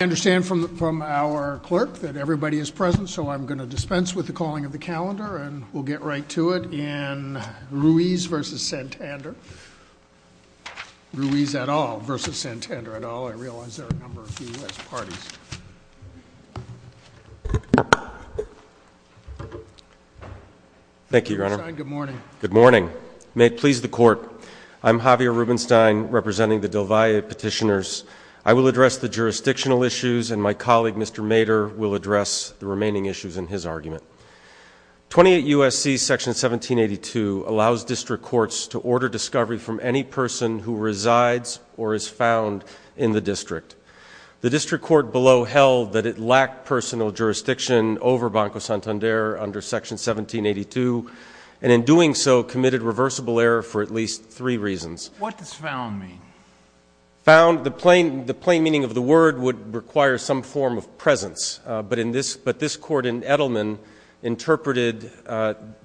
I understand from our clerk that everybody is present, so I'm going to dispense with the calling of the calendar, and we'll get right to it in Ruiz versus Santander Ruiz et al. versus Santander et al. I realize there are a number of US parties. Thank you, Your Honor. Good morning. Good morning. May it please the court. I'm Javier Rubenstein, representing the Del Valle petitioners. I will address the jurisdictional issues, and my colleague, Mr. Mader, will address the remaining issues in his argument. 28 U.S.C. section 1782 allows district courts to order discovery from any person who resides or is found in the district. The district court below held that it lacked personal jurisdiction over Banco Santander under section 1782, and in doing so committed reversible error for at least three reasons. What does found mean? Found, the plain meaning of the word would require some form of presence, but this court in Edelman interpreted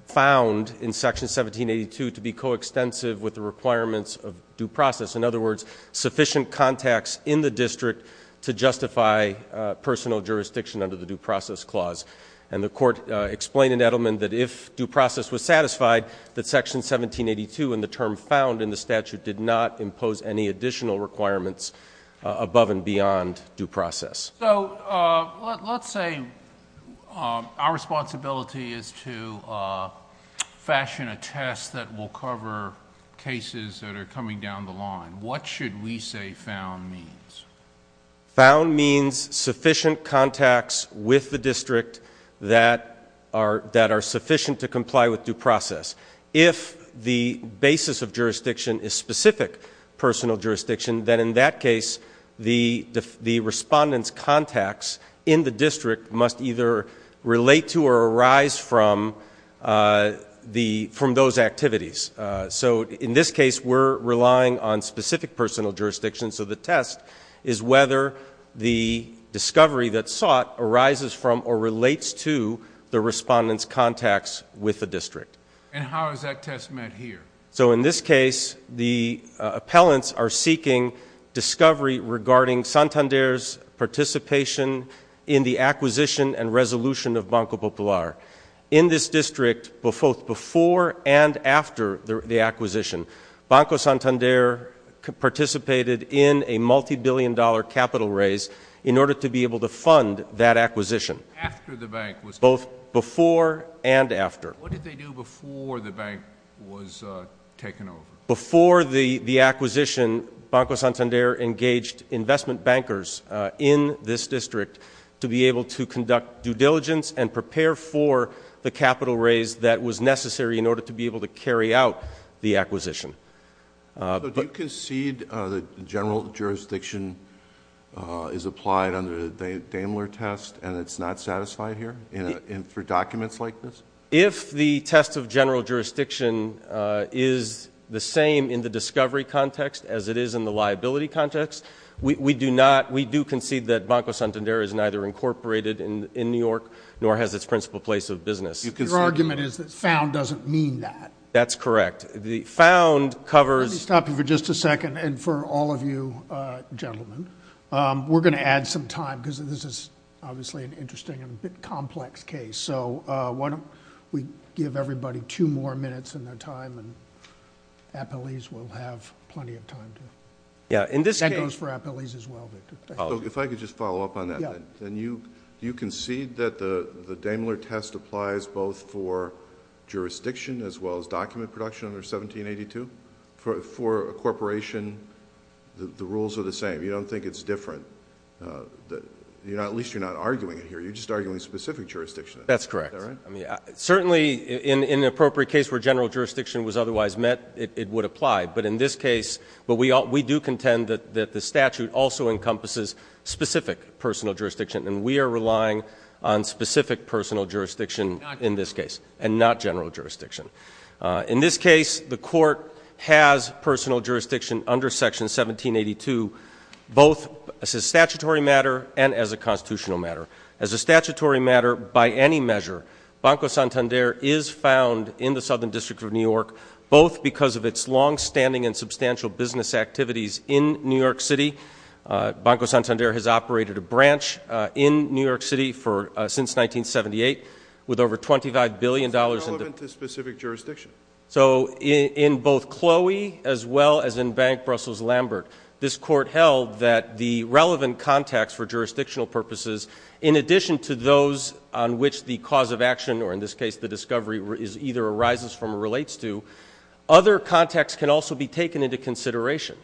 found in section 1782 to be coextensive with the requirements of due process. In other words, sufficient contacts in the district to justify personal jurisdiction under the due process clause, and the court explained in Edelman that if due process was satisfied, that section 1782 and the term found in the statute did not impose any additional requirements above and beyond due process. Let's say our responsibility is to fashion a test that will cover cases that are coming down the line. What should we say found means? Found means sufficient contacts with the district that are that are sufficient to comply with due process. If the basis of jurisdiction is specific personal jurisdiction, then in that case the respondents contacts in the district must either relate to or arise from those activities. So in this case, we're relying on specific personal jurisdictions, so the test is whether the discovery that sought arises from or relates to the respondents contacts with the district. And how is that test met here? So in this case, the appellants are seeking discovery regarding Santander's participation in the acquisition and resolution of Banco Popular. In this district, both before and after the acquisition, Banco Santander participated in a multi-billion dollar capital raise in order to be able to fund that acquisition. Both before and after. Before the the acquisition, Banco Santander engaged investment bankers in this district to be able to conduct due diligence and prepare for the capital raise that was necessary in order to be able to carry out the acquisition. But you concede the general jurisdiction is applied under the Daimler test and it's not satisfied here in for documents like this? If the test of general jurisdiction is the same in the discovery context as it is in the liability context, we do not, we do concede that Banco Santander is neither incorporated in in New York nor has its principal place of business. Your argument is that found doesn't mean that. That's correct. The found covers... Let me stop you for just a second and for all of you gentlemen, we're gonna add some time because this is obviously an interesting and a bit complex case. So why don't we give everybody two more minutes in their time and appellees will have plenty of time. Yeah, in this case... That goes for appellees as well. If I could just follow up on that, then you concede that the the Daimler test applies both for jurisdiction as well as document production under 1782? For a corporation, the rules are the same. You don't think it's different. You know, at least you're not arguing it here. You're just arguing specific jurisdiction. That's correct. I mean, certainly in an appropriate case where general jurisdiction was otherwise met, it would apply. But in this case, we do contend that the statute also encompasses specific personal jurisdiction and we are relying on specific personal jurisdiction in this case and not general jurisdiction. In this case, the court has personal jurisdiction under section 1782 both as a statutory matter and as a constitutional matter. As a statutory matter, by any measure, Banco Santander is found in the Southern District of New York, both because of its long-standing and substantial business activities in New York City. Banco Santander has operated a branch in New York City for since 1978 with over 25 billion dollars... What's relevant to specific jurisdiction? So in both Chloe as well as in Bank Brussels Lambert, this court held that the relevant contacts for jurisdictional purposes, in addition to those on which the cause of action, or in this case the discovery, either arises from or relates to, other contacts can also be taken into consideration.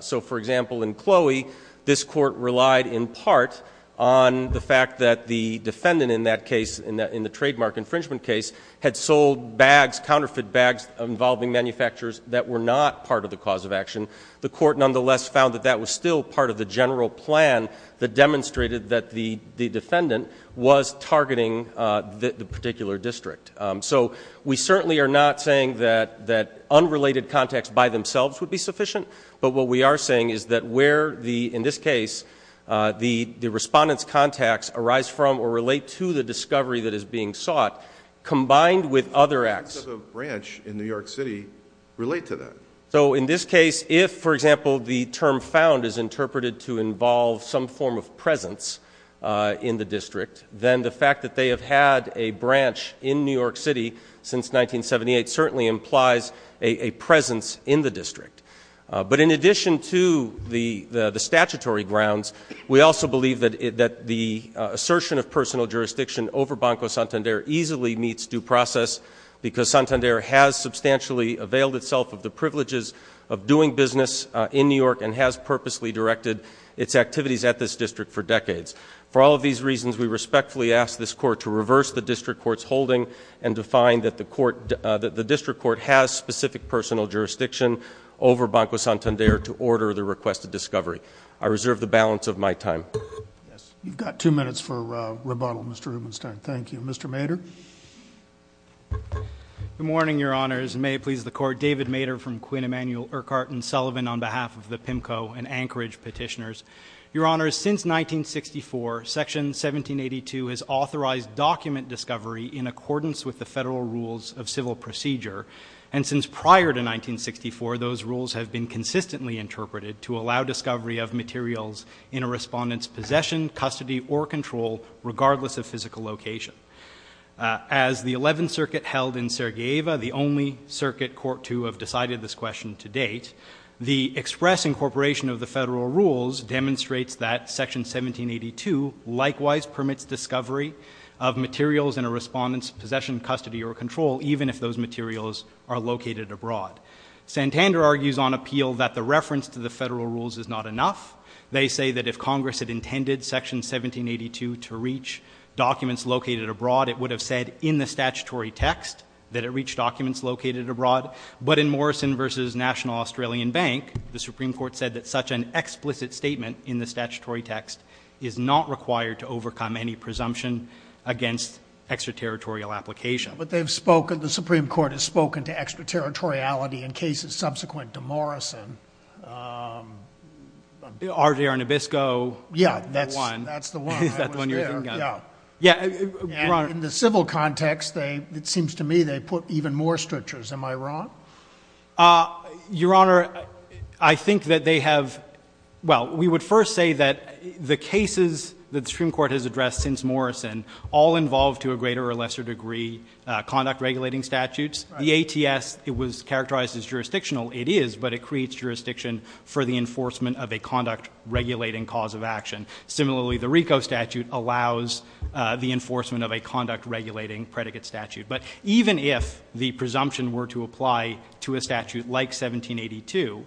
So, for example, in Chloe, this court relied in part on the fact that the defendant in that case, in the trademark infringement case, had sold bags, counterfeit bags, involving manufacturers that were not part of the cause of action. The court nonetheless found that that was still part of the general plan that demonstrated that the defendant was targeting the particular district. So we certainly are not saying that unrelated contacts by themselves would be sufficient, but what we are saying is that where, in this case, the respondent's contacts arise from or relate to the discovery that is being sought, combined with other acts... How does a branch in New York City relate to that? So in this case, if, for example, the term found is interpreted to involve some form of presence in the district, then the fact that they have had a branch in New York City since 1978 certainly implies a presence in the district. But in addition to the statutory grounds, we also believe that the assertion of personal jurisdiction over Banco Santander easily meets due process, because Santander has substantially availed itself of the privileges of doing business in New York and has purposely directed its activities at this district for decades. For all of these reasons, we respectfully ask this court to reverse the district court's holding and to find that the district court has specific personal jurisdiction over Banco Santander to order the request of discovery. I reserve the balance of my time. Yes, you've got two minutes for rebuttal, Mr. Rubenstein. Thank you. Mr. Mader? Good morning, your honors. May it please the court, David Mader from Quinn Emanuel Urquhart and Sullivan on behalf of the PIMCO and Anchorage petitioners. Your honors, since 1964, section 1782 has authorized document discovery in accordance with the federal rules of civil procedure. And since prior to 1964, those rules have been consistently interpreted to allow discovery of materials in a respondent's possession, custody, or control, regardless of physical location. As the 11th Circuit held in Sarajevo, the only circuit court to have decided this question to date, the express incorporation of the federal rules demonstrates that section 1782 likewise permits discovery of materials in a respondent's possession, custody, or control, even if those materials are located abroad. Santander argues on appeal that the reference to the federal rules is not enough. They say that if Congress had intended section 1782 to reach documents located abroad, it would have said in the statutory text that it reached documents located abroad. But in Morrison versus National Australian Bank, the Supreme Court said that such an explicit statement in the statutory text is not required to overcome any presumption against extraterritorial application. But they've spoken, the Supreme Court has spoken to extraterritoriality in cases subsequent to Morrison. R.J. Arnabisco, that one. Yeah, that's the one. That's the one you're thinking of. Yeah. Yeah. And in the civil context, it seems to me they put even more stretchers. Am I wrong? Your Honor, I think that they have, well, we would first say that the cases that the Supreme Court has addressed since Morrison all involve, to a greater or lesser degree, conduct regulating statutes. The ATS, it was characterized as jurisdictional. It is, but it creates jurisdiction for the enforcement of a conduct regulating cause of action. Similarly, the RICO statute allows the enforcement of a conduct regulating predicate statute. But even if the presumption were to apply to a statute like 1782,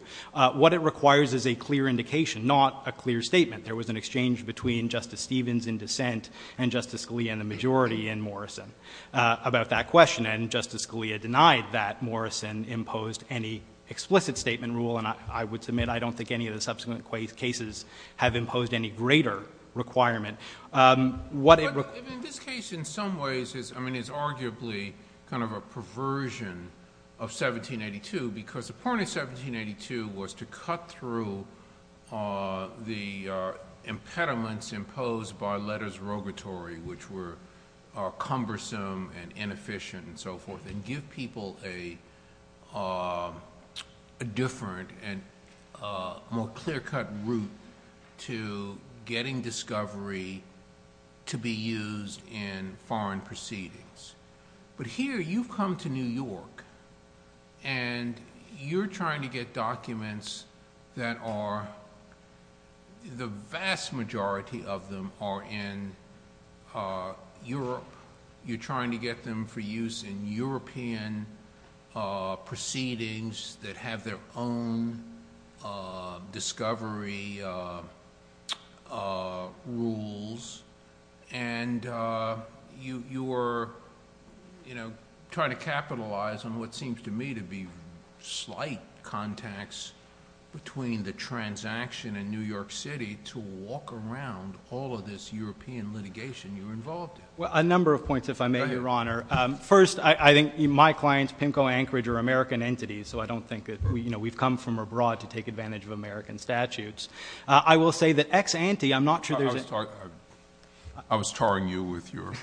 what it requires is a clear indication, not a clear statement. There was an exchange between Justice Stevens in dissent and Justice Scalia and the majority in Morrison about that question. And Justice Scalia denied that Morrison imposed any explicit statement rule. And I would submit I don't think any of the subsequent cases have imposed any greater requirement. In this case, in some ways, I mean, it's arguably kind of a perversion of 1782, because the point of 1782 was to cut through the impediments imposed by letters rogatory, which were cumbersome and inefficient and so forth, and give people a different and more clear-cut route to getting discovery to be used in foreign proceedings. But here, you've come to New York, and you're trying to get documents that are, the vast majority of them are in Europe. You're trying to get them for use in European proceedings that have their own discovery rules. And you're trying to capitalize on what seems to me to be slight contacts between the transaction in New York City to walk around all of this European litigation you're involved in. Well, a number of points, if I may, Your Honor. First, I think my clients, PIMCO, Anchorage, are American entities, so I don't think that we've come from abroad to take advantage of American statutes. I will say that ex-ante, I'm not sure there's a... I was tarring you with your...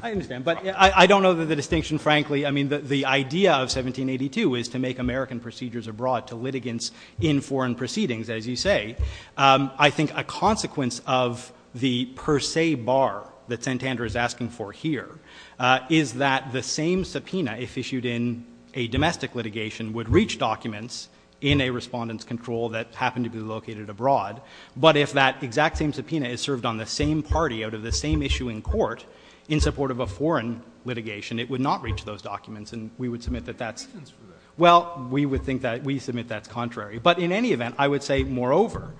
I understand, but I don't know the distinction, frankly. I mean, the idea of 1782 is to make American procedures abroad to litigants in foreign proceedings, as you say. I think a consequence of the per se bar that Santander is asking for here is that the same subpoena, if issued in a domestic litigation, would reach documents in a respondent's control that happened to be located abroad. But if that exact same subpoena is served on the same party out of the same issue in court in support of a foreign litigation, it would not reach those documents. And we would submit that that's... There are reasons for that. Well, we would think that we submit that's contrary. But in any event, I would say, moreover...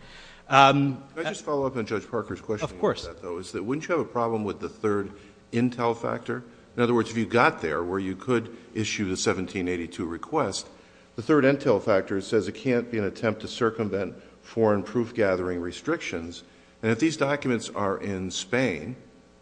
Can I just follow up on Judge Parker's question about that, though? Of course. It's that wouldn't you have a problem with the third intel factor? In other words, if you got there where you could issue the 1782 request, the third intel factor says it can't be an attempt to circumvent foreign proof-gathering restrictions. And if these documents are in Spain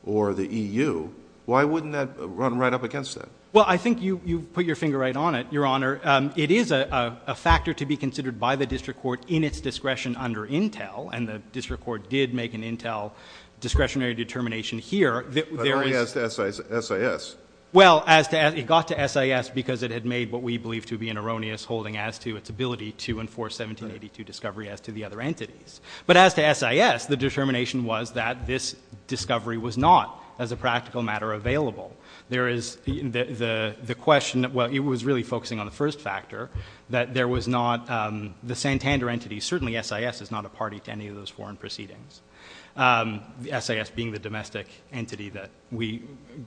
or the EU, why wouldn't that run right up against that? Well, I think you put your finger right on it, Your Honor. It is a factor to be considered by the district court in its discretion under intel, and the district court did make an intel discretionary determination here. But only as to SIS. Well, it got to SIS because it had made what we believe to be an erroneous holding as to its ability to enforce 1782 discovery as to the other entities. But as to SIS, the determination was that this discovery was not, as a practical matter, available. There is the question... Well, it was really focusing on the first factor, that there was not... The Santander entity, certainly SIS, is not a party to any of those foreign proceedings. SIS being the domestic entity that we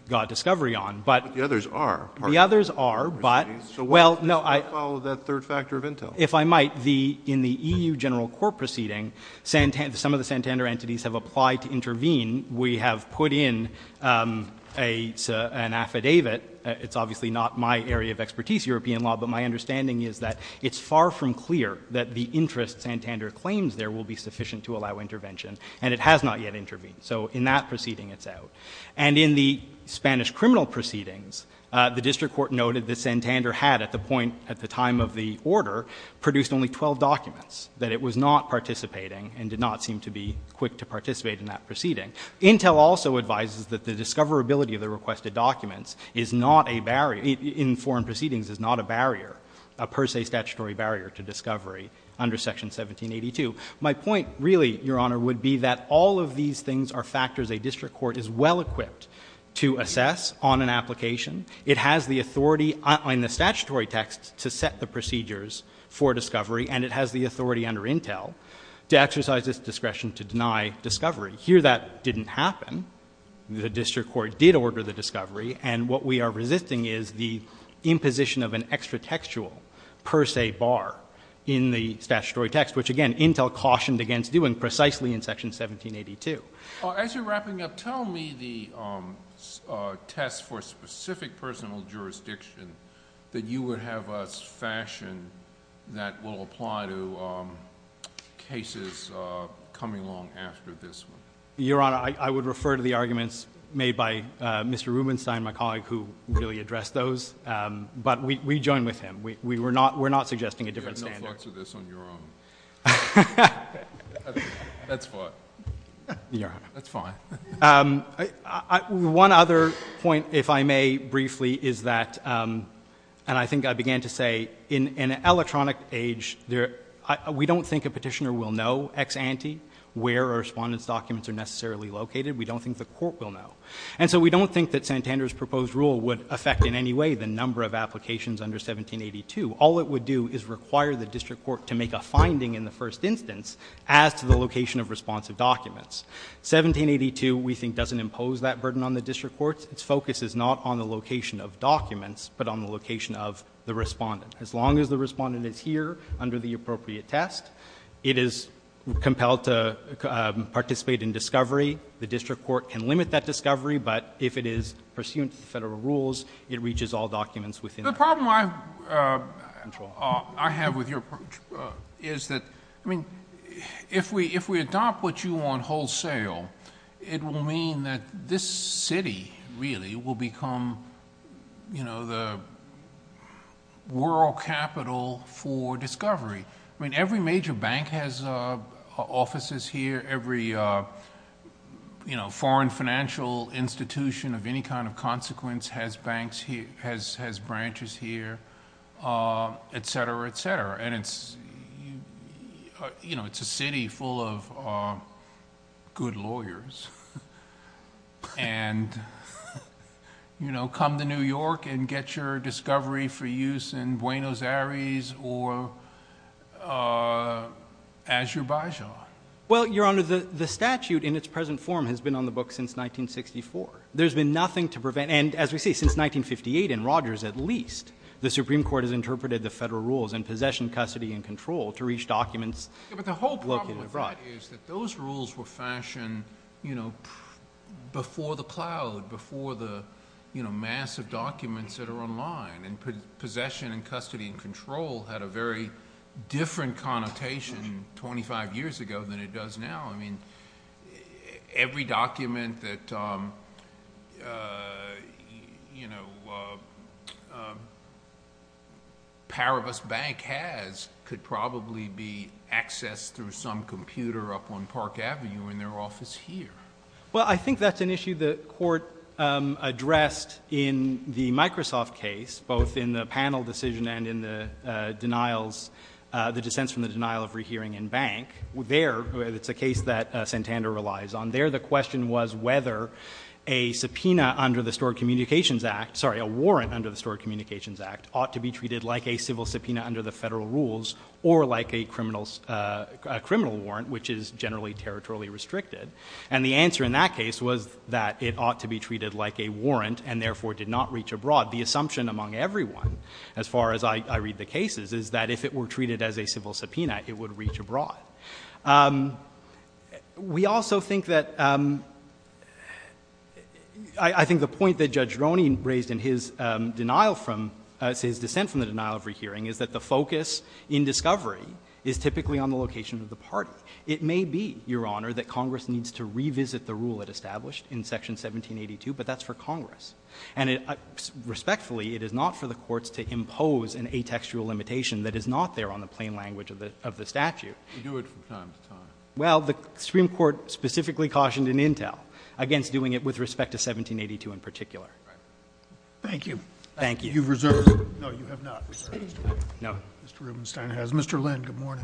got discovery on. But the others are. The others are, but... So why follow that third factor of intel? If I might, in the EU general court proceeding, some of the Santander entities have applied to intervene. We have put in an affidavit. It's obviously not my area of expertise, European law, but my understanding is that it's far from clear that the interest Santander claims there will be sufficient to allow intervention. And it has not yet intervened. So in that proceeding, it's out. And in the Spanish criminal proceedings, the district court noted that Santander had, at the point, at the time of the order, produced only 12 documents, that it was not participating and did not seem to be quick to participate in that proceeding. Intel also advises that the discoverability of the requested documents is not a barrier... In foreign proceedings, is not a barrier, a per se statutory barrier to discovery under section 1782. My point, really, Your Honor, would be that all of these things are factors a district court is well-equipped to assess on an application. It has the authority in the statutory text to set the procedures for discovery. And it has the authority under intel to exercise its discretion to deny discovery. Here, that didn't happen. The district court did order the discovery. And what we are resisting is the imposition of an extra textual per se bar in the statutory text, which, again, Intel cautioned against doing precisely in section 1782. As you're wrapping up, tell me the test for specific personal jurisdiction that you would have us fashion that will apply to cases coming along after this one. Your Honor, I would refer to the arguments made by Mr. Rubenstein, my colleague, who really addressed those. But we join with him. We're not suggesting a different standard. I have no thoughts of this on your own. That's fine. Your Honor. That's fine. One other point, if I may briefly, is that, and I think I began to say, in an electronic age, we don't think a petitioner will know ex ante where a respondent's documents are necessarily located. We don't think the court will know. And so we don't think that Santander's proposed rule would affect in any way the number of applications under 1782. All it would do is require the district court to make a finding in the first instance as to the location of responsive documents. 1782, we think, doesn't impose that burden on the district courts. Its focus is not on the location of documents, but on the location of the respondent. As long as the respondent is here under the appropriate test, it is compelled to participate in discovery. The district court can limit that discovery. But if it is pursuant to the Federal rules, it reaches all documents within that. The problem I have with your approach is that, I mean, if we adopt what you want wholesale, it will mean that this city, really, will become the world capital for discovery. I mean, every major bank has offices here. Every foreign financial institution of any kind of consequence has branches here, etc., etc. And it's a city full of good lawyers. And, you know, come to New York and get your discovery for use in Buenos Aires or Azerbaijan. Well, Your Honor, the statute in its present form has been on the books since 1964. There's been nothing to prevent. And, as we say, since 1958 in Rogers at least, the Supreme Court has interpreted the Federal rules in possession, custody, and control to reach documents located abroad. But the whole problem with that is that those rules were fashioned, you know, before the cloud, before the, you know, massive documents that are online. And possession and custody and control had a very different connotation 25 years ago than it does now. I mean, every document that, you know, Paribus Bank has could probably be accessed through some computer up on Park Avenue in their office here. Well, I think that's an issue the Court addressed in the Microsoft case, both in the panel decision and in the denials, the dissents from the denial of rehearing in Bank. There, it's a case that Santander relies on, there the question was whether a subpoena under the Stored Communications Act, sorry, a warrant under the Stored Communications Act ought to be treated like a civil subpoena under the Federal rules or like a criminal warrant, which is generally territorially restricted. And the answer in that case was that it ought to be treated like a warrant and therefore did not reach abroad. The assumption among everyone, as far as I read the cases, is that if it were treated as a civil subpoena, it would reach abroad. We also think that, I think the point that Judge Roney raised in his denial from, his dissent from the denial of rehearing is that the focus in discovery is typically on the location of the party. It may be, Your Honor, that Congress needs to revisit the rule it established in section 1782, but that's for Congress. And respectfully, it is not for the courts to impose an atextual limitation that is not there on the plain language of the statute. Scalia. You do it from time to time. Roberts. Well, the Supreme Court specifically cautioned in Intel against doing it with respect to 1782 in particular. Scalia. Thank you. Roberts. Thank you. Scalia. You've reserved? No, you have not. Mr. Rubenstein has. Mr. Lynn, good morning.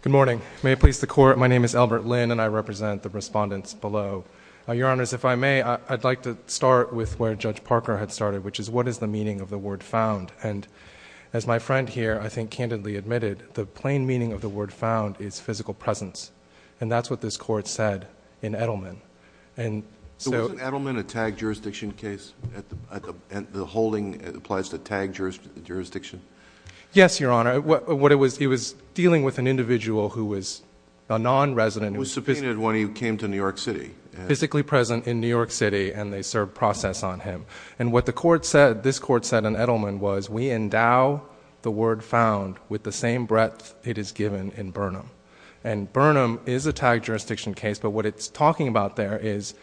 Good morning. May it please the Court, my name is Albert Lynn, and I represent the respondents below. Your Honors, if I may, I'd like to start with where Judge Parker had started, which is what is the meaning of the word found? And as my friend here, I think, candidly admitted, the plain meaning of the word found is physical presence. And that's what this Court said in Edelman. So was Edelman a tagged jurisdiction case? The holding applies to tagged jurisdiction? Yes, Your Honor. It was dealing with an individual who was a non-resident. Who was subpoenaed when he came to New York City. Physically present in New York City, and they served process on him. And what this Court said in Edelman was, we endow the word found with the same breadth it is given in Burnham. And Burnham is a tagged jurisdiction case, but what it's talking about there is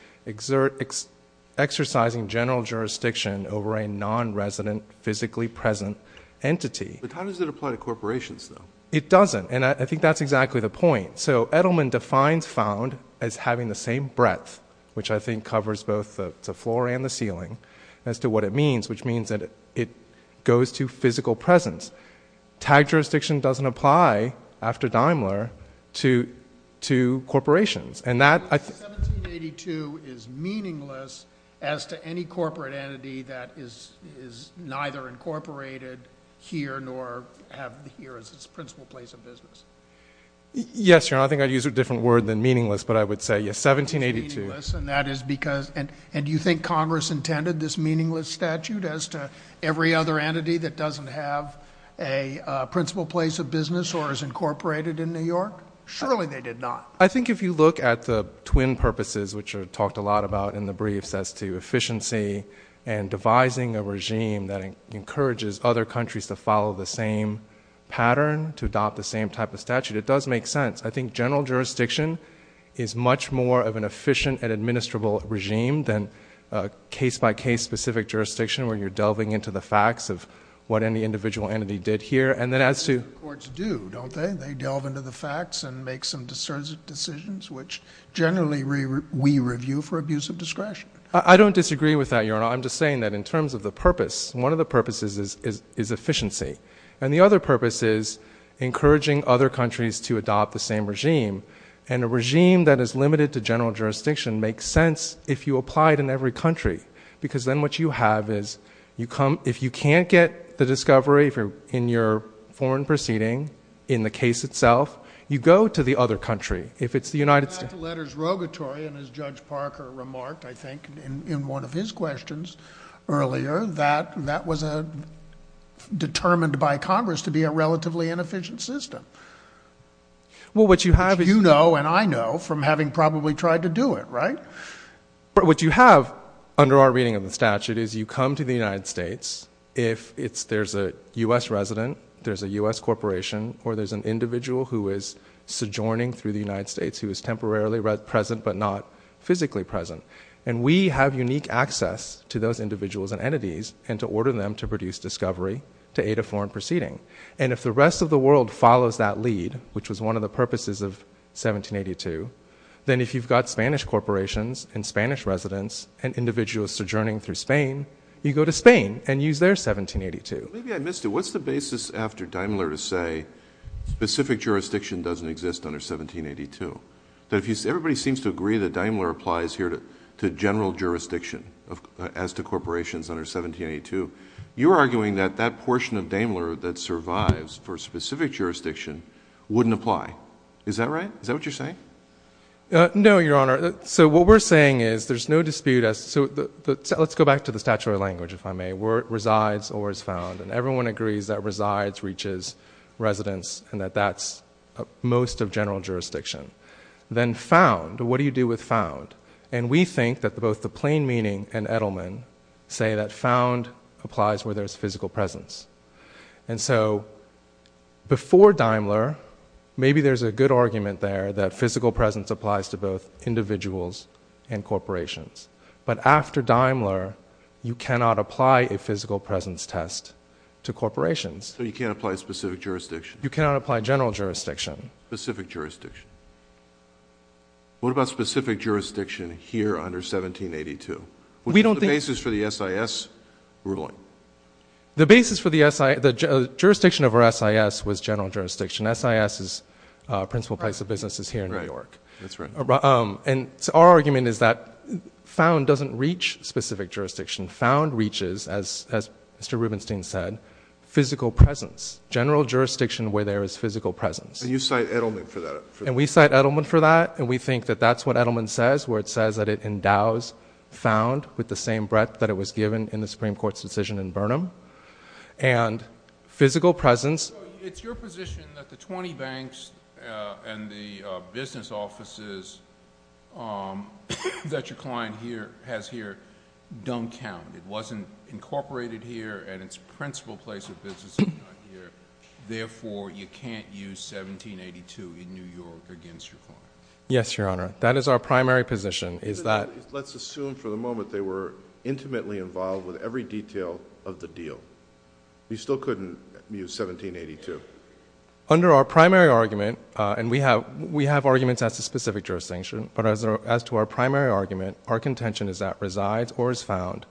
exercising general jurisdiction over a non-resident, physically present entity. But how does it apply to corporations, though? It doesn't. And I think that's exactly the point. So Edelman defines found as having the same breadth, which I think covers both the floor and the ceiling, as to what it means, which means that it goes to physical presence. Tagged jurisdiction doesn't apply, after Daimler, to corporations. 1782 is meaningless as to any corporate entity that is neither incorporated here nor here as its principal place of business. Yes, Your Honor. I think I'd use a different word than meaningless, but I would say 1782. And do you think Congress intended this meaningless statute as to every other principal place of business or as incorporated in New York? Surely they did not. I think if you look at the twin purposes, which are talked a lot about in the briefs as to efficiency and devising a regime that encourages other countries to follow the same pattern, to adopt the same type of statute, it does make sense. I think general jurisdiction is much more of an efficient and administrable regime than case-by-case specific jurisdiction where you're delving into the facts of what any individual entity did here. And then as to— Courts do, don't they? They delve into the facts and make some decisions, which generally we review for abuse of discretion. I don't disagree with that, Your Honor. I'm just saying that in terms of the purpose, one of the purposes is efficiency. And the other purpose is encouraging other countries to adopt the same regime. And a regime that is limited to general jurisdiction makes sense if you apply it in every country. Because then what you have is you come—if you can't get the discovery in your foreign proceeding, in the case itself, you go to the other country. If it's the United States— You had the letters rogatory, and as Judge Parker remarked, I think, in one of his questions earlier, that that was determined by Congress to be a relatively inefficient system. Well, what you have is— Which you know and I know from having probably tried to do it, right? What you have, under our reading of the statute, is you come to the United States. If there's a U.S. resident, there's a U.S. corporation, or there's an individual who is sojourning through the United States who is temporarily present but not physically present. And we have unique access to those individuals and entities and to order them to produce discovery to aid a foreign proceeding. And if the rest of the world follows that lead, which was one of the Spanish residents and individuals sojourning through Spain, you go to Spain and use their 1782. Maybe I missed it. What's the basis after Daimler to say specific jurisdiction doesn't exist under 1782? Everybody seems to agree that Daimler applies here to general jurisdiction as to corporations under 1782. You're arguing that that portion of Daimler that survives for specific jurisdiction wouldn't apply. Is that right? Is that what you're saying? No, Your Honor. So what we're saying is there's no dispute. So let's go back to the statutory language, if I may. Where it resides or is found. And everyone agrees that resides reaches residents and that that's most of general jurisdiction. Then found, what do you do with found? And we think that both the plain meaning and Edelman say that found applies where there's physical presence. And so before Daimler, maybe there's a good argument there that physical presence applies to both individuals and corporations. But after Daimler, you cannot apply a physical presence test to corporations. So you can't apply specific jurisdiction? You cannot apply general jurisdiction. Specific jurisdiction. What about specific jurisdiction here under 1782? Which is the basis for the SIS ruling? The basis for the SIS, the jurisdiction of our SIS was general jurisdiction. SIS is principal place of business is here in New York. That's right. And our argument is that found doesn't reach specific jurisdiction. Found reaches, as Mr. Rubenstein said, physical presence. General jurisdiction where there is physical presence. And you cite Edelman for that? And we cite Edelman for that. And we think that that's what Edelman says where it says that it endows found with the same breadth that it was given in the Supreme Court's decision in Burnham. And physical presence. It's your position that the 20 banks and the business offices that your client has here don't count. It wasn't incorporated here and its principal place of business is not here. Therefore, you can't use 1782 in New York against your client. Yes, Your Honor. That is our primary position. Let's assume for the moment they were intimately involved with every detail of the deal. You still couldn't use 1782. Under our primary argument, and we have arguments as to specific jurisdiction, but as to our primary argument, our contention is that resides or is found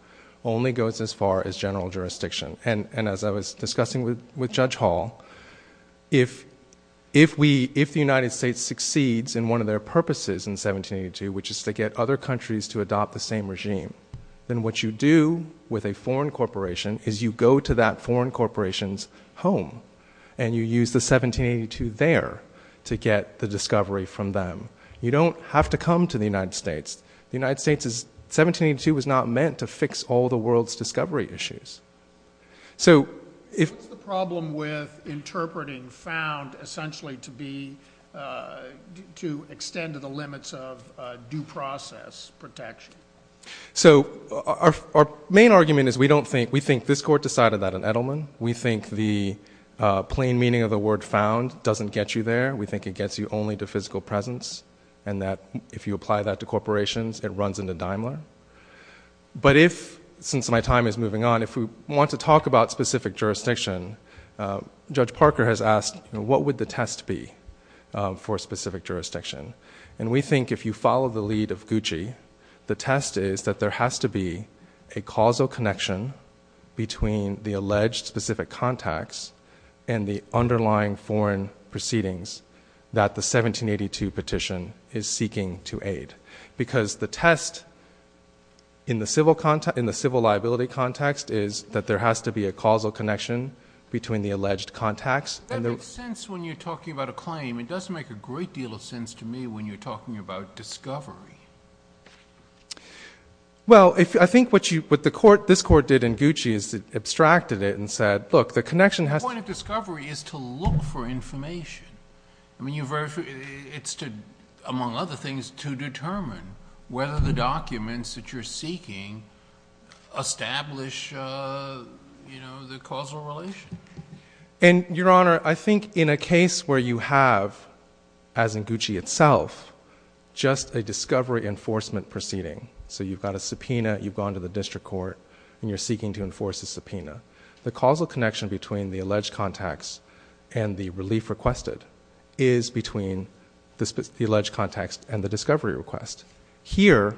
only goes as far as general jurisdiction. And as I was discussing with Judge Hall, if the United States succeeds in one of their purposes in 1782, which is to get other countries to go to that foreign corporation's home. And you use the 1782 there to get the discovery from them. You don't have to come to the United States. The United States, 1782 was not meant to fix all the world's discovery issues. What's the problem with interpreting found essentially to be, to extend to the limits of due process protection? Our main argument is we think this court decided that in Edelman. We think the plain meaning of the word found doesn't get you there. We think it gets you only to physical presence, and that if you apply that to corporations, it runs into Daimler. But since my time is moving on, if we want to talk about specific jurisdiction, Judge Parker has asked, what would the test be for specific jurisdiction? And we think if you follow the lead of Gucci, the test is that there has to be a causal connection between the alleged specific contacts and the underlying foreign proceedings that the 1782 petition is seeking to aid. Because the test in the civil liability context is that there has to be a causal connection between the alleged contacts. That makes sense when you're talking about a claim. It does make a great deal of sense to me when you're talking about discovery. Well, I think what this court did in Gucci is it abstracted it and said, look, the connection has to be. The point of discovery is to look for information. I mean, it's to, among other things, to determine whether the documents that you're seeking establish the causal relation. And, Your Honor, I think in a case where you have, as in Gucci itself, just a discovery enforcement proceeding, so you've got a subpoena, you've gone to the district court, and you're seeking to enforce a subpoena, the causal connection between the alleged contacts and the relief requested is between the alleged contacts and the discovery request. Here,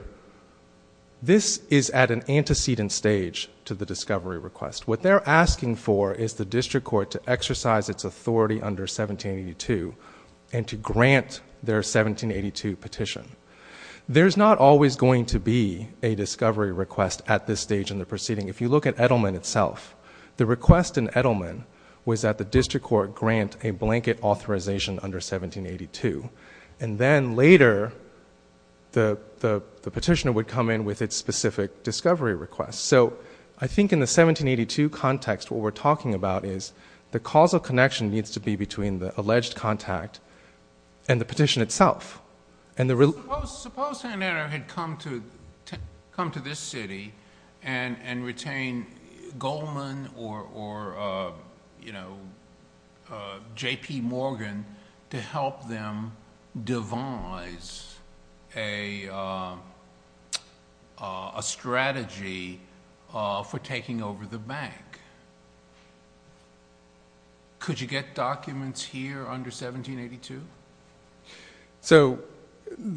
this is at an antecedent stage to the discovery request. What they're asking for is the district court to exercise its authority under 1782 and to grant their 1782 petition. There's not always going to be a discovery request at this stage in the proceeding. If you look at Edelman itself, the request in Edelman was that the district court grant a blanket authorization under 1782. And then later, the petitioner would come in with its specific discovery request. So, I think in the 1782 context, what we're talking about is the causal connection needs to be between the alleged contact and the petition itself. And the relief... Suppose Sander had come to this city and retained Goldman or, you know, JP Morgan to help them devise a strategy for taking over the bank. Could you get documents here under 1782? So,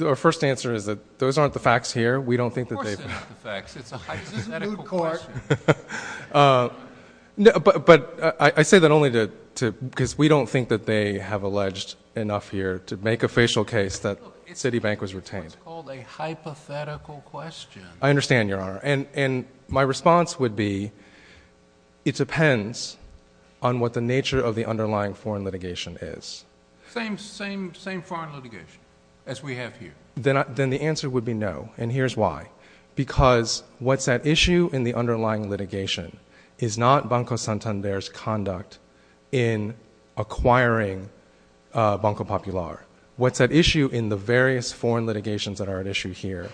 our first answer is that those aren't the facts here. We don't think that they... Of course they're not the facts. Is this a new court? But I say that only because we don't think that they have alleged enough here to make a facial case that Citibank was retained. It's what's called a hypothetical question. I understand, Your Honor. And my response would be it depends on what the nature of the underlying foreign litigation is. Same foreign litigation as we have here. Then the answer would be no. And here's why. Because what's at issue in the underlying litigation is not Banco Santander's conduct in acquiring Banco Popular. What's at issue in the various foreign litigations that are at issue here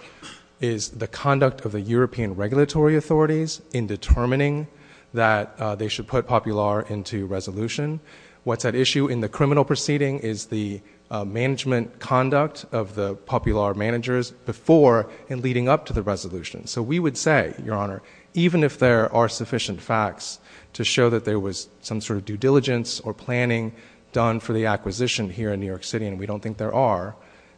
is the conduct of the European regulatory authorities in determining that they should put Popular into resolution. What's at issue in the criminal proceeding is the management conduct of the Popular managers before and leading up to the resolution. So, we would say, Your Honor, even if there are sufficient facts to show that there was some sort of due diligence or planning done for the acquisition here in New York City, and we don't think there are,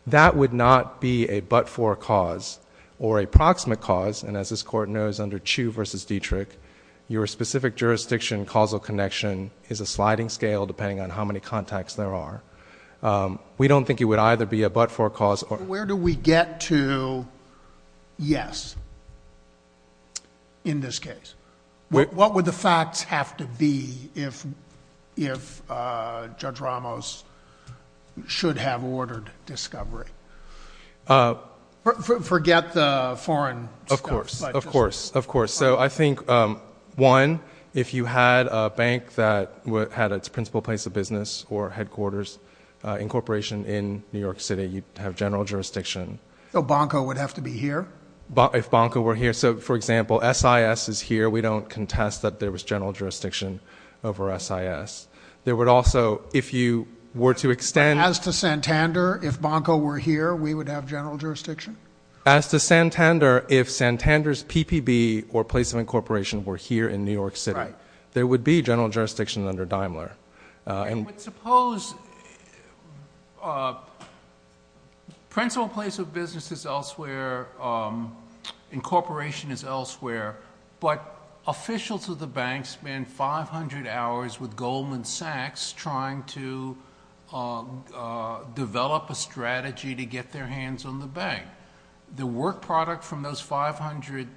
that would not be a but-for cause or a proximate cause. And as this Court knows, under Chu v. Dietrich, your specific jurisdiction causal connection is a sliding scale depending on how many contacts there are. We don't think it would either be a but-for cause or... Where do we get to yes in this case? What would the facts have to be if Judge Ramos should have ordered discovery? Forget the foreign stuff. Of course. Of course. Of course. So, I think, one, if you had a bank that had its principal place of business or headquarters incorporation in New York City, you'd have general jurisdiction. So, Banco would have to be here? If Banco were here. So, for example, SIS is here. We don't contest that there was general jurisdiction over SIS. There would also, if you were to extend... As to Santander, if Banco were here, we would have general jurisdiction? As to Santander, if Santander's PPB or place of incorporation were here in New York City, there would be general jurisdiction under Daimler. But suppose principal place of business is elsewhere, incorporation is elsewhere, but officials of the bank spend 500 hours with Goldman Sachs trying to develop a strategy to get their hands on the bank. The work product from those 500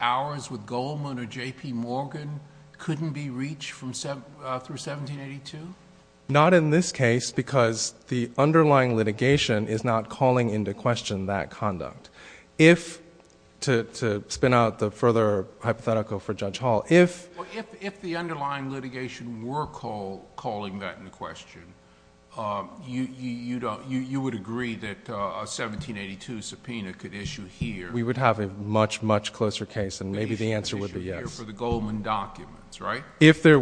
hours with Goldman or J.P. Morgan couldn't be reached through 1782? Not in this case because the underlying litigation is not calling into question that conduct. If, to spin out the further hypothetical for Judge Hall, if... We would have a much, much closer case and maybe the answer would be yes. For the Goldman documents, right? If there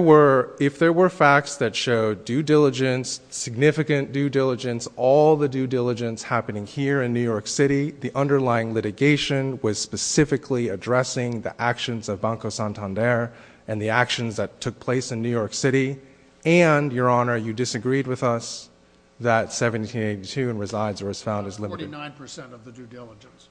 were facts that showed due diligence, significant due diligence, all the due diligence happening here in New York City, the underlying litigation was specifically addressing the actions of Banco Santander and the actions that took place in New York City. And, Your Honor, you disagreed with us that 1782 resides or is found as limited. Forty-nine percent of the due diligence.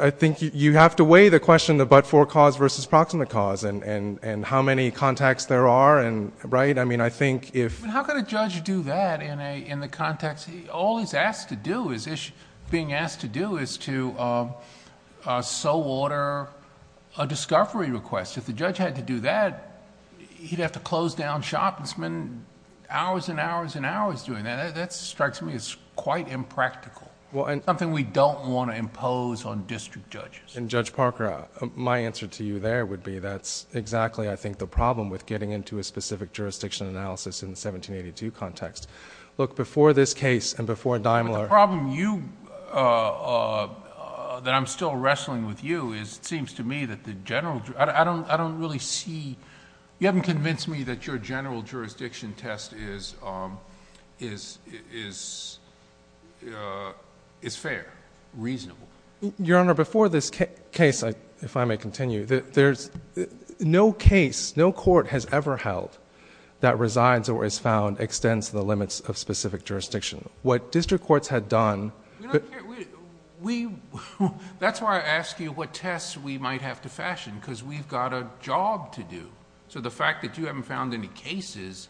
I think you have to weigh the question of but-for cause versus proximate cause and how many contacts there are, right? I mean, I think if... But how could a judge do that in the context... All he's being asked to do is to so order a discovery request. If the judge had to do that, he'd have to close down shop and spend hours and hours and hours doing that. That strikes me as quite impractical, something we don't want to impose on district judges. Judge Parker, my answer to you there would be that's exactly, I think, the problem with getting into a specific jurisdiction analysis in the 1782 context. Look, before this case and before Daimler... The problem that I'm still wrestling with you is it seems to me that the general... I don't really see... You haven't convinced me that your general jurisdiction test is fair, reasonable. Your Honor, before this case, if I may continue, there's... No case, no court has ever held that resides or is found extends the limits of specific jurisdiction. What district courts had done... That's why I ask you what tests we might have to fashion, because we've got a job to do. The fact that you haven't found any cases,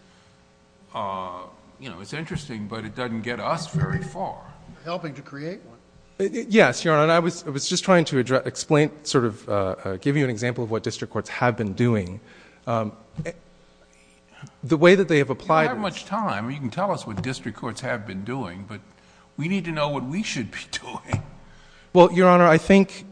it's interesting, but it doesn't get us very far. Helping to create one. Yes, Your Honor. I was just trying to explain, give you an example of what district courts have been doing. The way that they have applied... You don't have much time. You can tell us what district courts have been doing, but we need to know what we should be doing. Well, Your Honor, I think...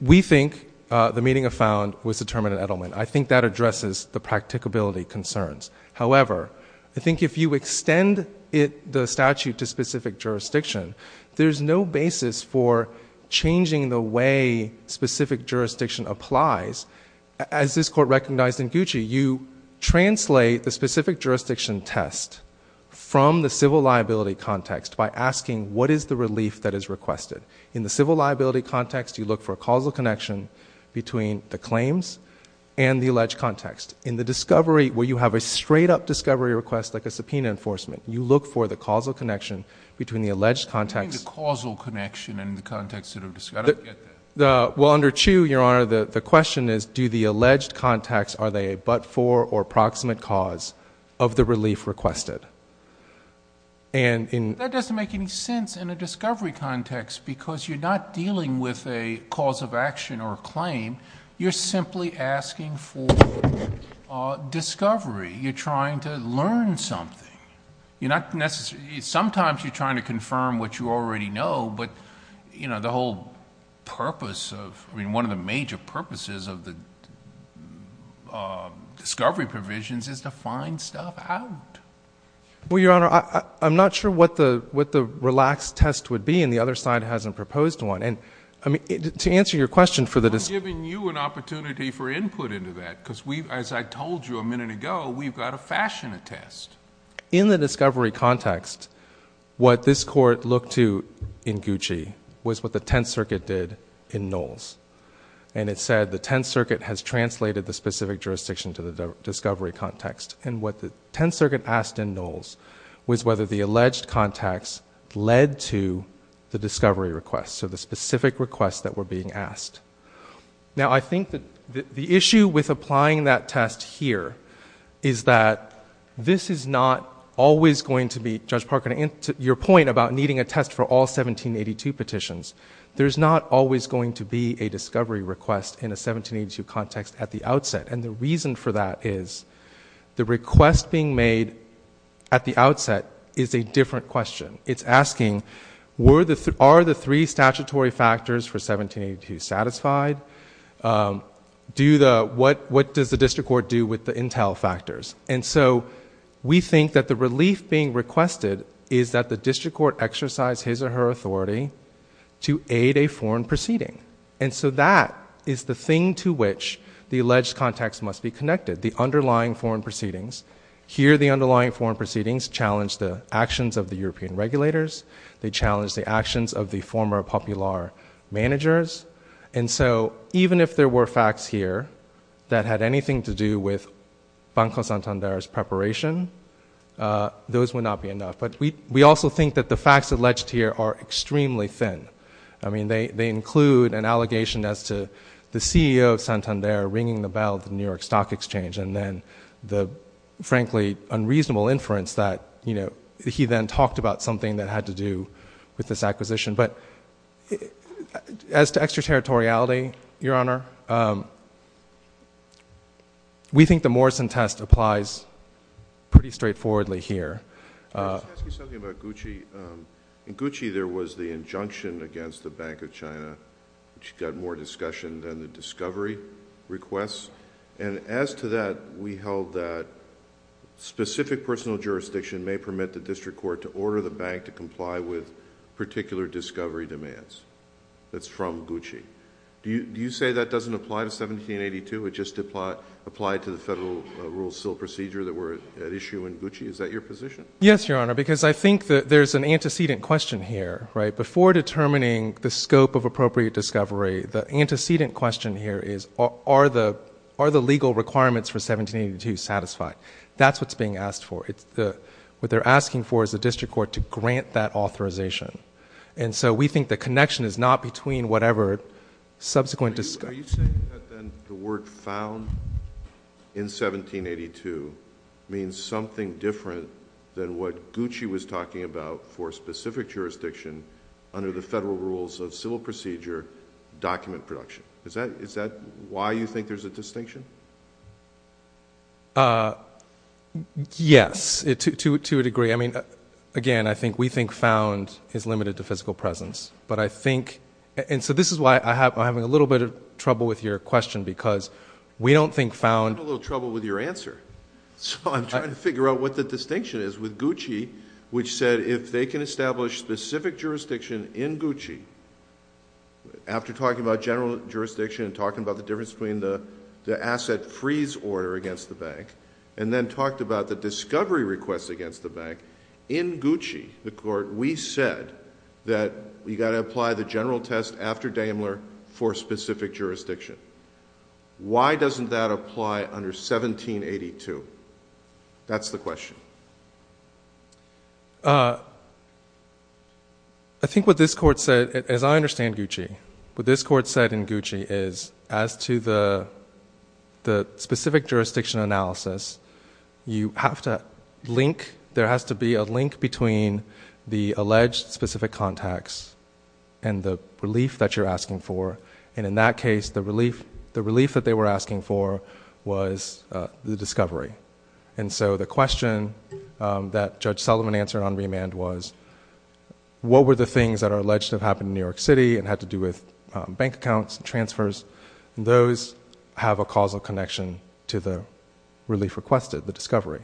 We think the meeting of found was determined in Edelman. I think that addresses the practicability concerns. However, I think if you extend the statute to specific jurisdiction, there's no basis for changing the way specific jurisdiction applies. As this Court recognized in Gucci, you translate the specific jurisdiction test from the civil liability context by asking what is the relief that is requested. In the civil liability context, you look for a causal connection between the claims and the alleged context. In the discovery, where you have a straight-up discovery request like a subpoena enforcement, you look for the causal connection between the alleged context... What do you mean the causal connection in the context of discovery? I don't get that. Well, under Chu, Your Honor, the question is do the alleged context... Are they a but-for or proximate cause of the relief requested? That doesn't make any sense in a discovery context because you're not dealing with a cause of action or a claim. You're simply asking for discovery. You're trying to learn something. Sometimes you're trying to confirm what you already know, but one of the major purposes of the discovery provisions is to find stuff out. Well, Your Honor, I'm not sure what the relaxed test would be, and the other side hasn't proposed one. To answer your question for the discovery... I'm giving you an opportunity for input into that because, as I told you a minute ago, we've got to fashion a test. In the discovery context, what this Court looked to in Gucci was what the Tenth Circuit did in Knowles. And it said the Tenth Circuit has translated the specific jurisdiction to the discovery context. And what the Tenth Circuit asked in Knowles was whether the alleged context led to the discovery request, so the specific requests that were being asked. Now, I think that the issue with applying that test here is that this is not always going to be... Judge Parker, to your point about needing a test for all 1782 petitions, there's not always going to be a discovery request in a 1782 context at the outset. And the reason for that is the request being made at the outset is a different question. It's asking, are the three statutory factors for 1782 satisfied? What does the District Court do with the intel factors? And so, we think that the relief being requested is that the District Court exercise his or her authority to aid a foreign proceeding. And so, that is the thing to which the alleged context must be connected, the underlying foreign proceedings. Here, the underlying foreign proceedings challenge the actions of the European regulators. They challenge the actions of the former popular managers. And so, even if there were facts here that had anything to do with Banco Santander's preparation, those would not be enough. But we also think that the facts alleged here are extremely thin. I mean, they include an allegation as to the CEO of Santander ringing the bell at the New York Stock Exchange. And then the, frankly, unreasonable inference that he then talked about something that had to do with this acquisition. But as to extraterritoriality, Your Honor, we think the Morrison test applies pretty straightforwardly here. Let me ask you something about Gucci. In Gucci, there was the injunction against the Bank of China, which got more discussion than the discovery requests. And as to that, we held that specific personal jurisdiction may permit the District Court to order the bank to comply with particular discovery demands. That's from Gucci. Do you say that doesn't apply to 1782? It just applied to the federal rule still procedure that were at issue in Gucci? Is that your position? Yes, Your Honor, because I think that there's an antecedent question here, right? Are the legal requirements for 1782 satisfied? That's what's being asked for. What they're asking for is the District Court to grant that authorization. And so we think the connection is not between whatever subsequent discovery. Are you saying that then the word found in 1782 means something different than what Gucci was talking about for specific jurisdiction under the federal rules of civil procedure document production? Is that why you think there's a distinction? Yes, to a degree. I mean, again, I think we think found is limited to physical presence. But I think – and so this is why I'm having a little bit of trouble with your question because we don't think found – I'm having a little trouble with your answer. So I'm trying to figure out what the distinction is with Gucci, which said if they can establish specific jurisdiction in Gucci, after talking about general jurisdiction and talking about the difference between the asset freeze order against the bank and then talked about the discovery request against the bank, in Gucci, the court, we said that you've got to apply the general test after Daimler for specific jurisdiction. Why doesn't that apply under 1782? That's the question. I think what this court said, as I understand Gucci, what this court said in Gucci is as to the specific jurisdiction analysis, you have to link – there has to be a link between the alleged specific contacts and the relief that you're asking for. And in that case, the relief that they were asking for was the discovery. And so the question that Judge Sullivan answered on remand was what were the things that are alleged to have happened in New York City and had to do with bank accounts and transfers, and those have a causal connection to the relief requested, the discovery.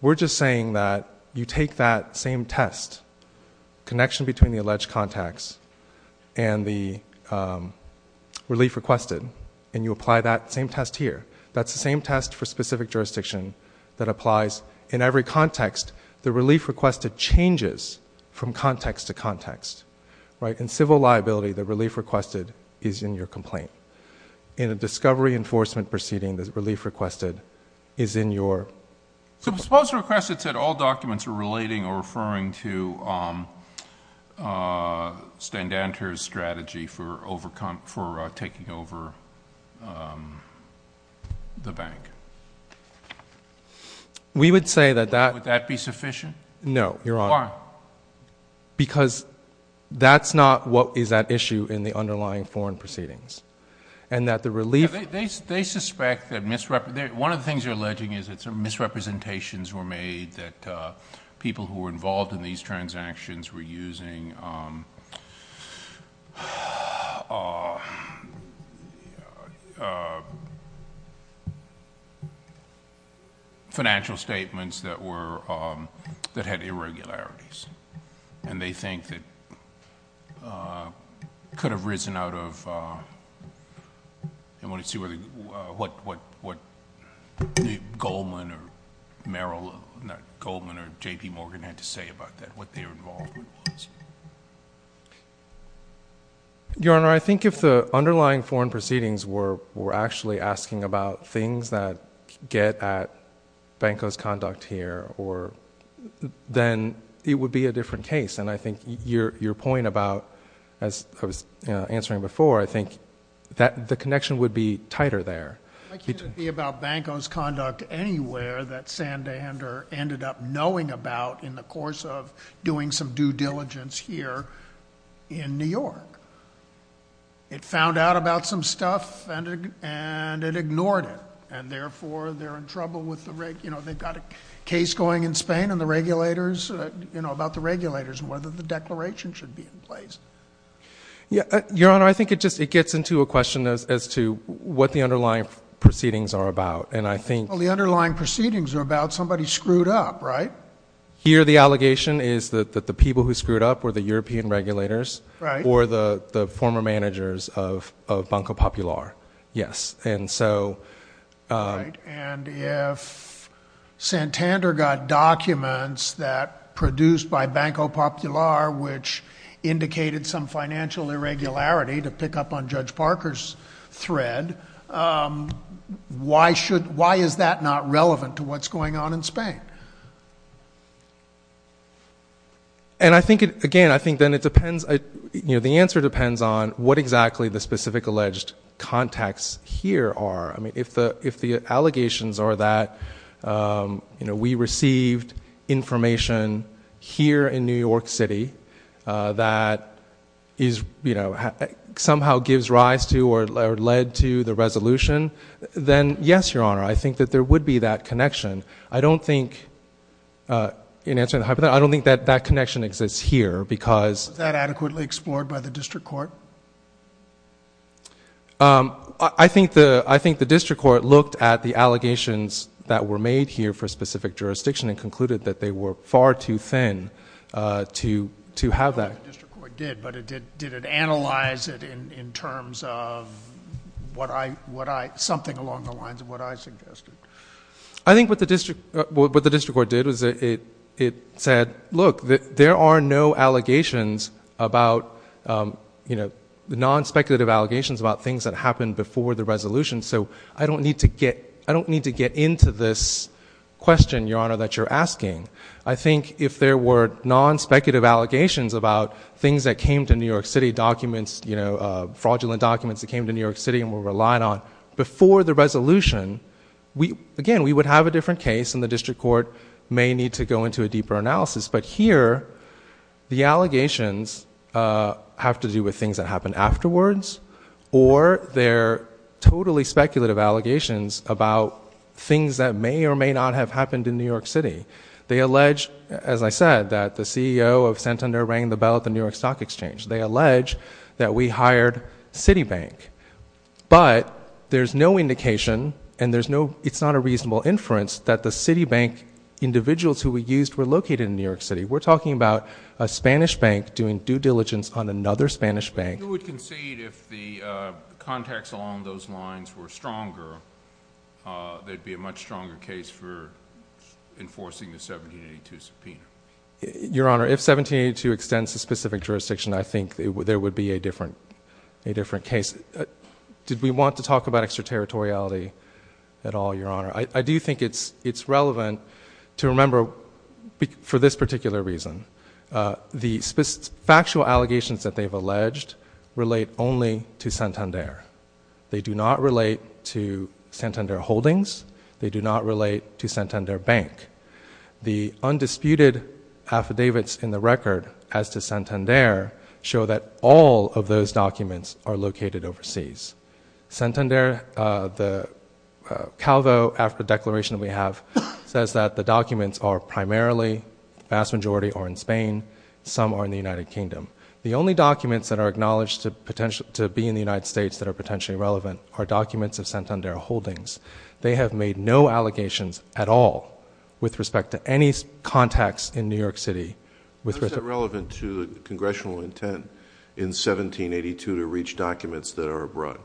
We're just saying that you take that same test, connection between the alleged contacts and the relief requested, and you apply that same test here. That's the same test for specific jurisdiction that applies in every context. The relief requested changes from context to context. In civil liability, the relief requested is in your complaint. In a discovery enforcement proceeding, the relief requested is in your complaint. So suppose the request said all documents are relating or referring to Stendanter's strategy for taking over the bank. We would say that that – Would that be sufficient? No. Why? Because that's not what is at issue in the underlying foreign proceedings, and that the relief – They suspect that – one of the things they're alleging is that some misrepresentations were made, that people who were involved in these transactions were using financial statements that had irregularities, and they think that could have risen out of – I want to see what Goldman or J.P. Morgan had to say about that, what their involvement was. Your Honor, I think if the underlying foreign proceedings were actually asking about things that get at Banco's conduct here, then it would be a different case. And I think your point about – as I was answering before, I think the connection would be tighter there. It couldn't be about Banco's conduct anywhere that Sandander ended up knowing about in the course of doing some due diligence here in New York. It found out about some stuff, and it ignored it. And therefore, they're in trouble with the – they've got a case going in Spain and the regulators – about the regulators and whether the declaration should be in place. Your Honor, I think it gets into a question as to what the underlying proceedings are about. And I think – Well, the underlying proceedings are about somebody screwed up, right? Here the allegation is that the people who screwed up were the European regulators or the former managers of Banco Popular, yes. And so – And if Sandander got documents that – produced by Banco Popular, which indicated some financial irregularity, to pick up on Judge Parker's thread, why is that not relevant to what's going on in Spain? And I think – again, I think then it depends – the answer depends on what exactly the specific alleged contacts here are. I mean, if the allegations are that we received information here in New York City that is – somehow gives rise to or led to the resolution, then yes, Your Honor, I think that there would be that connection. I don't think – in answering the hypothetical, I don't think that that connection exists here because – Was that adequately explored by the district court? I think the district court looked at the allegations that were made here for a specific jurisdiction and concluded that they were far too thin to have that – I don't know if the district court did, but did it analyze it in terms of what I – something along the lines of what I suggested? I think what the district court did was it said, look, there are no allegations about – non-speculative allegations about things that happened before the resolution, so I don't need to get into this question, Your Honor, that you're asking. I think if there were non-speculative allegations about things that came to New York City, documents, fraudulent documents that came to New York City and were relied on before the resolution, again, we would have a different case and the district court may need to go into a deeper analysis, but here the allegations have to do with things that happened afterwards or they're totally speculative allegations about things that may or may not have happened in New York City. They allege, as I said, that the CEO of Santander rang the bell at the New York Stock Exchange. They allege that we hired Citibank, but there's no indication and there's no – it's not a reasonable inference that the Citibank individuals who we used were located in New York City. We're talking about a Spanish bank doing due diligence on another Spanish bank. Would you concede if the contacts along those lines were stronger, there'd be a much stronger case for enforcing the 1782 subpoena? Your Honor, if 1782 extends a specific jurisdiction, I think there would be a different case. Did we want to talk about extraterritoriality at all, Your Honor? I do think it's relevant to remember for this particular reason. The factual allegations that they've alleged relate only to Santander. They do not relate to Santander Holdings. They do not relate to Santander Bank. The undisputed affidavits in the record as to Santander show that all of those documents are located overseas. Santander, the Calvo after declaration we have, says that the documents are primarily, the vast majority are in Spain. Some are in the United Kingdom. The only documents that are acknowledged to be in the United States that are potentially relevant are documents of Santander Holdings. They have made no allegations at all with respect to any contacts in New York City. How is that relevant to the congressional intent in 1782 to reach documents that are abroad?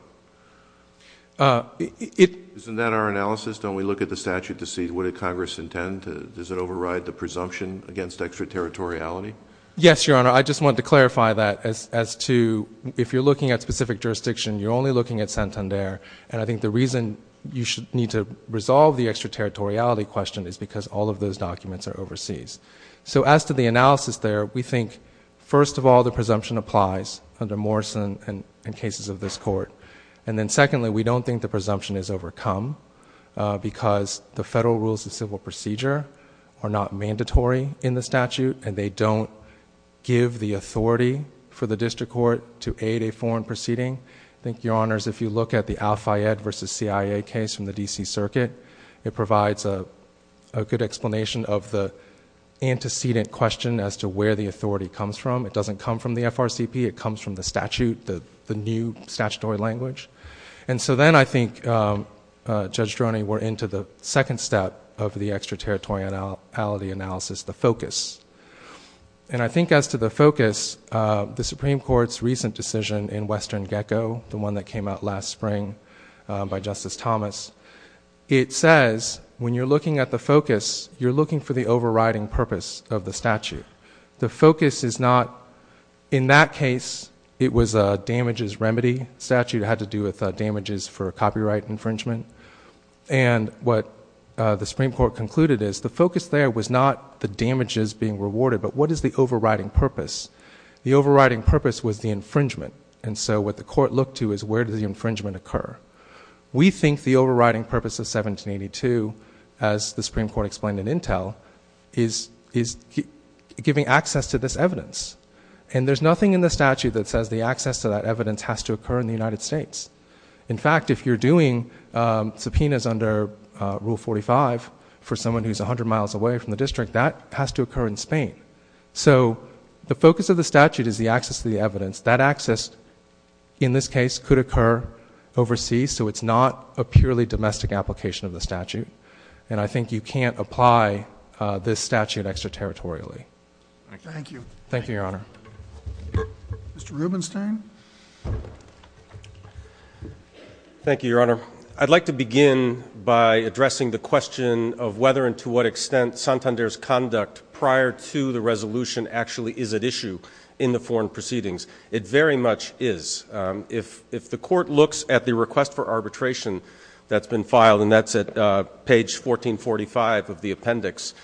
Isn't that our analysis? Don't we look at the statute to see what did Congress intend? Does it override the presumption against extraterritoriality? Yes, Your Honor. I just wanted to clarify that as to if you're looking at specific jurisdiction, you're only looking at Santander. I think the reason you need to resolve the extraterritoriality question is because all of those documents are overseas. As to the analysis there, we think, first of all, the presumption applies under Morrison and cases of this court. Secondly, we don't think the presumption is overcome because the federal rules of civil procedure are not mandatory in the statute, and they don't give the authority for the district court to aid a foreign proceeding. I think, Your Honors, if you look at the Al-Fayed versus CIA case from the D.C. Circuit, it provides a good explanation of the antecedent question as to where the authority comes from. It doesn't come from the FRCP. It comes from the statute, the new statutory language. And so then I think, Judge Droney, we're into the second step of the extraterritoriality analysis, the focus. And I think as to the focus, the Supreme Court's recent decision in Western Gecko, the one that came out last spring by Justice Thomas, it says when you're looking at the focus, you're looking for the overriding purpose of the statute. The focus is not in that case, it was a damages remedy statute. It had to do with damages for copyright infringement. And what the Supreme Court concluded is the focus there was not the damages being rewarded, but what is the overriding purpose. The overriding purpose was the infringement. And so what the court looked to is where does the infringement occur. We think the overriding purpose of 1782, as the Supreme Court explained in Intel, is giving access to this evidence. And there's nothing in the statute that says the access to that evidence has to occur in the United States. In fact, if you're doing subpoenas under Rule 45 for someone who's 100 miles away from the district, that has to occur in Spain. So the focus of the statute is the access to the evidence. That access, in this case, could occur overseas, so it's not a purely domestic application of the statute. And I think you can't apply this statute extraterritorially. Thank you. Thank you, Your Honor. Mr. Rubenstein. Thank you, Your Honor. I'd like to begin by addressing the question of whether and to what extent Santander's conduct prior to the resolution actually is at issue in the foreign proceedings. It very much is. If the court looks at the request for arbitration that's been filed, and that's at page 1445 of the appendix,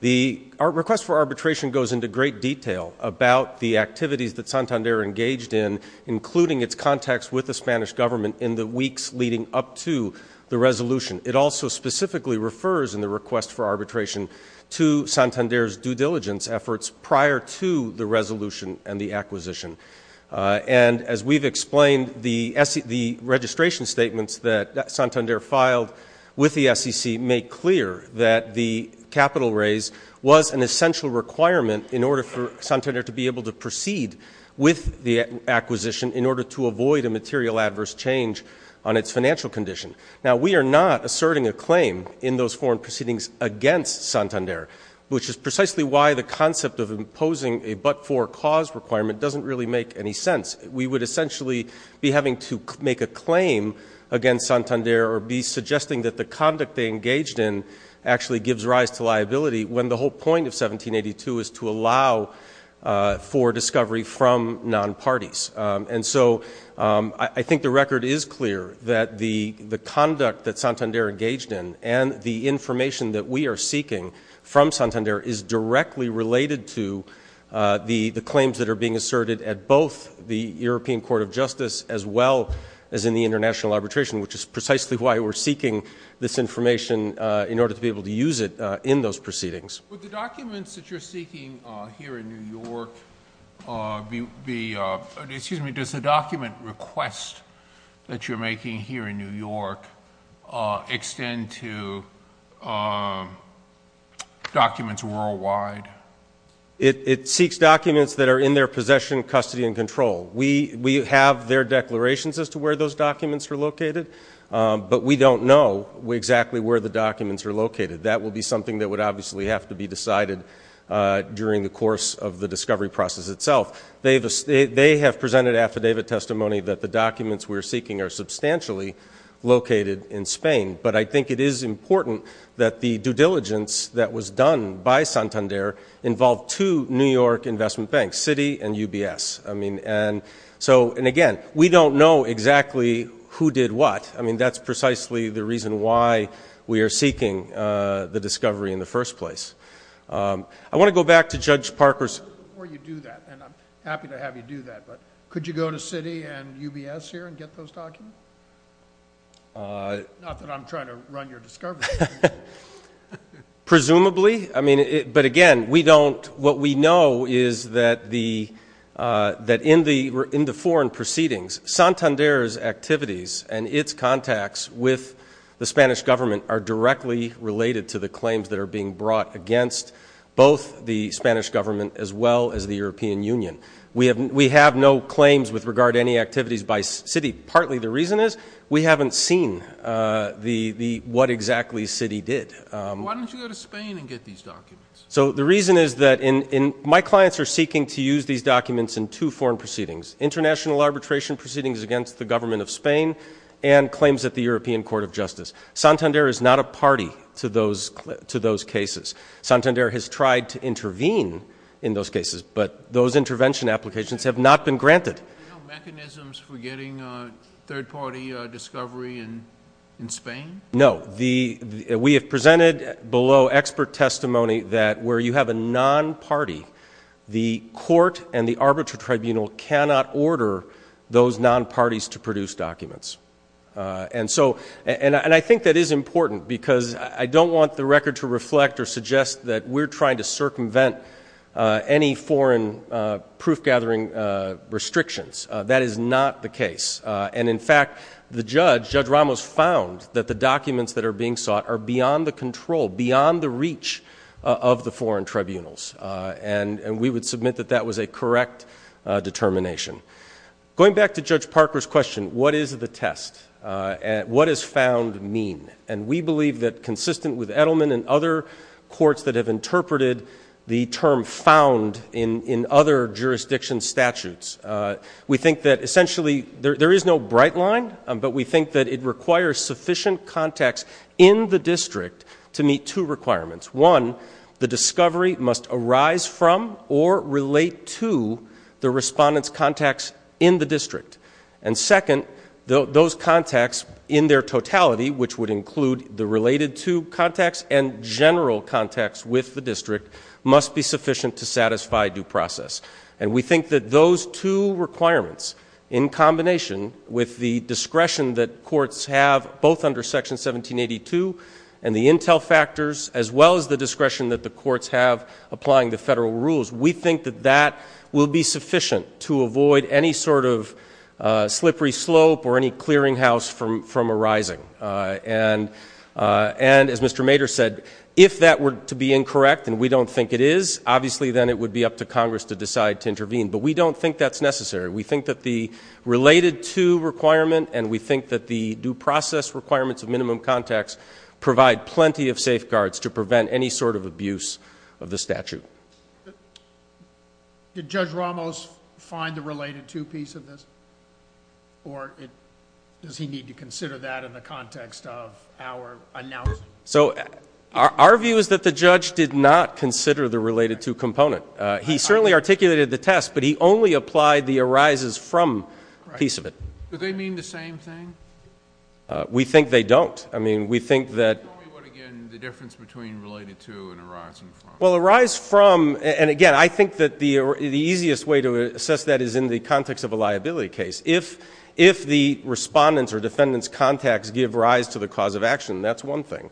the request for arbitration goes into great detail about the activities that Santander engaged in, including its contacts with the Spanish government in the weeks leading up to the resolution. It also specifically refers in the request for arbitration to Santander's due diligence efforts prior to the resolution and the acquisition. And as we've explained, the registration statements that Santander filed with the SEC make clear that the capital raise was an essential requirement in order for Santander to be able to proceed with the acquisition in order to avoid a material adverse change on its financial condition. Now, we are not asserting a claim in those foreign proceedings against Santander, which is precisely why the concept of imposing a but-for cause requirement doesn't really make any sense. We would essentially be having to make a claim against Santander or be suggesting that the conduct they engaged in actually gives rise to liability when the whole point of 1782 is to allow for discovery from non-parties. And so I think the record is clear that the conduct that Santander engaged in and the information that we are seeking from Santander is directly related to the claims that are being asserted at both the European Court of Justice as well as in the international arbitration, which is precisely why we're seeking this information in order to be able to use it in those proceedings. Would the documents that you're seeking here in New York be ‑‑ excuse me, does the document request that you're making here in New York extend to documents worldwide? It seeks documents that are in their possession, custody, and control. We have their declarations as to where those documents are located, but we don't know exactly where the documents are located. That will be something that would obviously have to be decided during the course of the discovery process itself. They have presented affidavit testimony that the documents we're seeking are substantially located in Spain, but I think it is important that the due diligence that was done by Santander involve two New York investment banks, Citi and UBS. And again, we don't know exactly who did what. I mean, that's precisely the reason why we are seeking the discovery in the first place. I want to go back to Judge Parker's ‑‑ Before you do that, and I'm happy to have you do that, but could you go to Citi and UBS here and get those documents? Not that I'm trying to run your discovery. Presumably. But again, what we know is that in the foreign proceedings, Santander's activities and its contacts with the Spanish government are directly related to the claims that are being brought against both the Spanish government as well as the European Union. We have no claims with regard to any activities by Citi. Partly the reason is we haven't seen what exactly Citi did. Why don't you go to Spain and get these documents? So the reason is that my clients are seeking to use these documents in two foreign proceedings, international arbitration proceedings against the government of Spain and claims at the European Court of Justice. Santander is not a party to those cases. Santander has tried to intervene in those cases, but those intervention applications have not been granted. Are there no mechanisms for getting third-party discovery in Spain? No. We have presented below expert testimony that where you have a non-party, the court and the arbitral tribunal cannot order those non-parties to produce documents. And I think that is important because I don't want the record to reflect or suggest that we're trying to circumvent any foreign proof-gathering restrictions. That is not the case. And, in fact, the judge, Judge Ramos, found that the documents that are being sought are beyond the control, beyond the reach of the foreign tribunals. And we would submit that that was a correct determination. Going back to Judge Parker's question, what is the test? What does found mean? And we believe that, consistent with Edelman and other courts that have interpreted the term found in other jurisdiction statutes, we think that, essentially, there is no bright line, but we think that it requires sufficient context in the district to meet two requirements. One, the discovery must arise from or relate to the respondent's context in the district. And, second, those contexts, in their totality, which would include the related to context and general context with the district, must be sufficient to satisfy due process. And we think that those two requirements, in combination with the discretion that courts have both under Section 1782 and the intel factors, as well as the discretion that the courts have applying the federal rules, we think that that will be sufficient to avoid any sort of slippery slope or any clearinghouse from arising. And, as Mr. Mader said, if that were to be incorrect, and we don't think it is, obviously then it would be up to Congress to decide to intervene. But we don't think that's necessary. We think that the related to requirement and we think that the due process requirements of minimum context provide plenty of safeguards to prevent any sort of abuse of the statute. Did Judge Ramos find the related to piece of this? Or does he need to consider that in the context of our analysis? So our view is that the judge did not consider the related to component. He certainly articulated the test, but he only applied the arises from piece of it. Do they mean the same thing? We think they don't. I mean, we think that the difference between related to and arise from. Well, arise from, and again, I think that the easiest way to assess that is in the context of a liability case. If the respondent's or defendant's contacts give rise to the cause of action, that's one thing.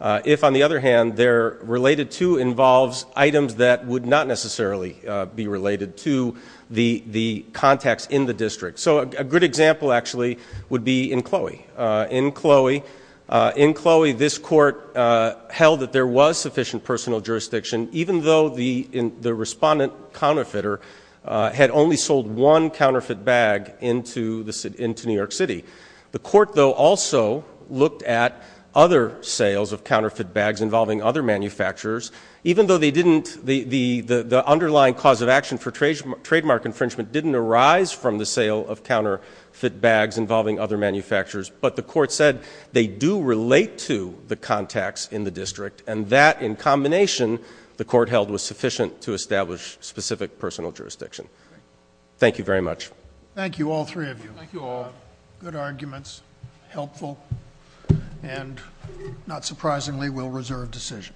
If, on the other hand, their related to involves items that would not necessarily be related to the contacts in the district. So a good example, actually, would be in Chloe. In Chloe, this court held that there was sufficient personal jurisdiction, even though the respondent counterfeiter had only sold one counterfeit bag into New York City. The court, though, also looked at other sales of counterfeit bags involving other manufacturers, even though the underlying cause of action for trademark infringement didn't arise from the sale of counterfeit bags involving other manufacturers, but the court said they do relate to the contacts in the district, and that, in combination, the court held was sufficient to establish specific personal jurisdiction. Thank you very much. Thank you, all three of you. Thank you all. Good arguments, helpful, and not surprisingly, well-reserved decision.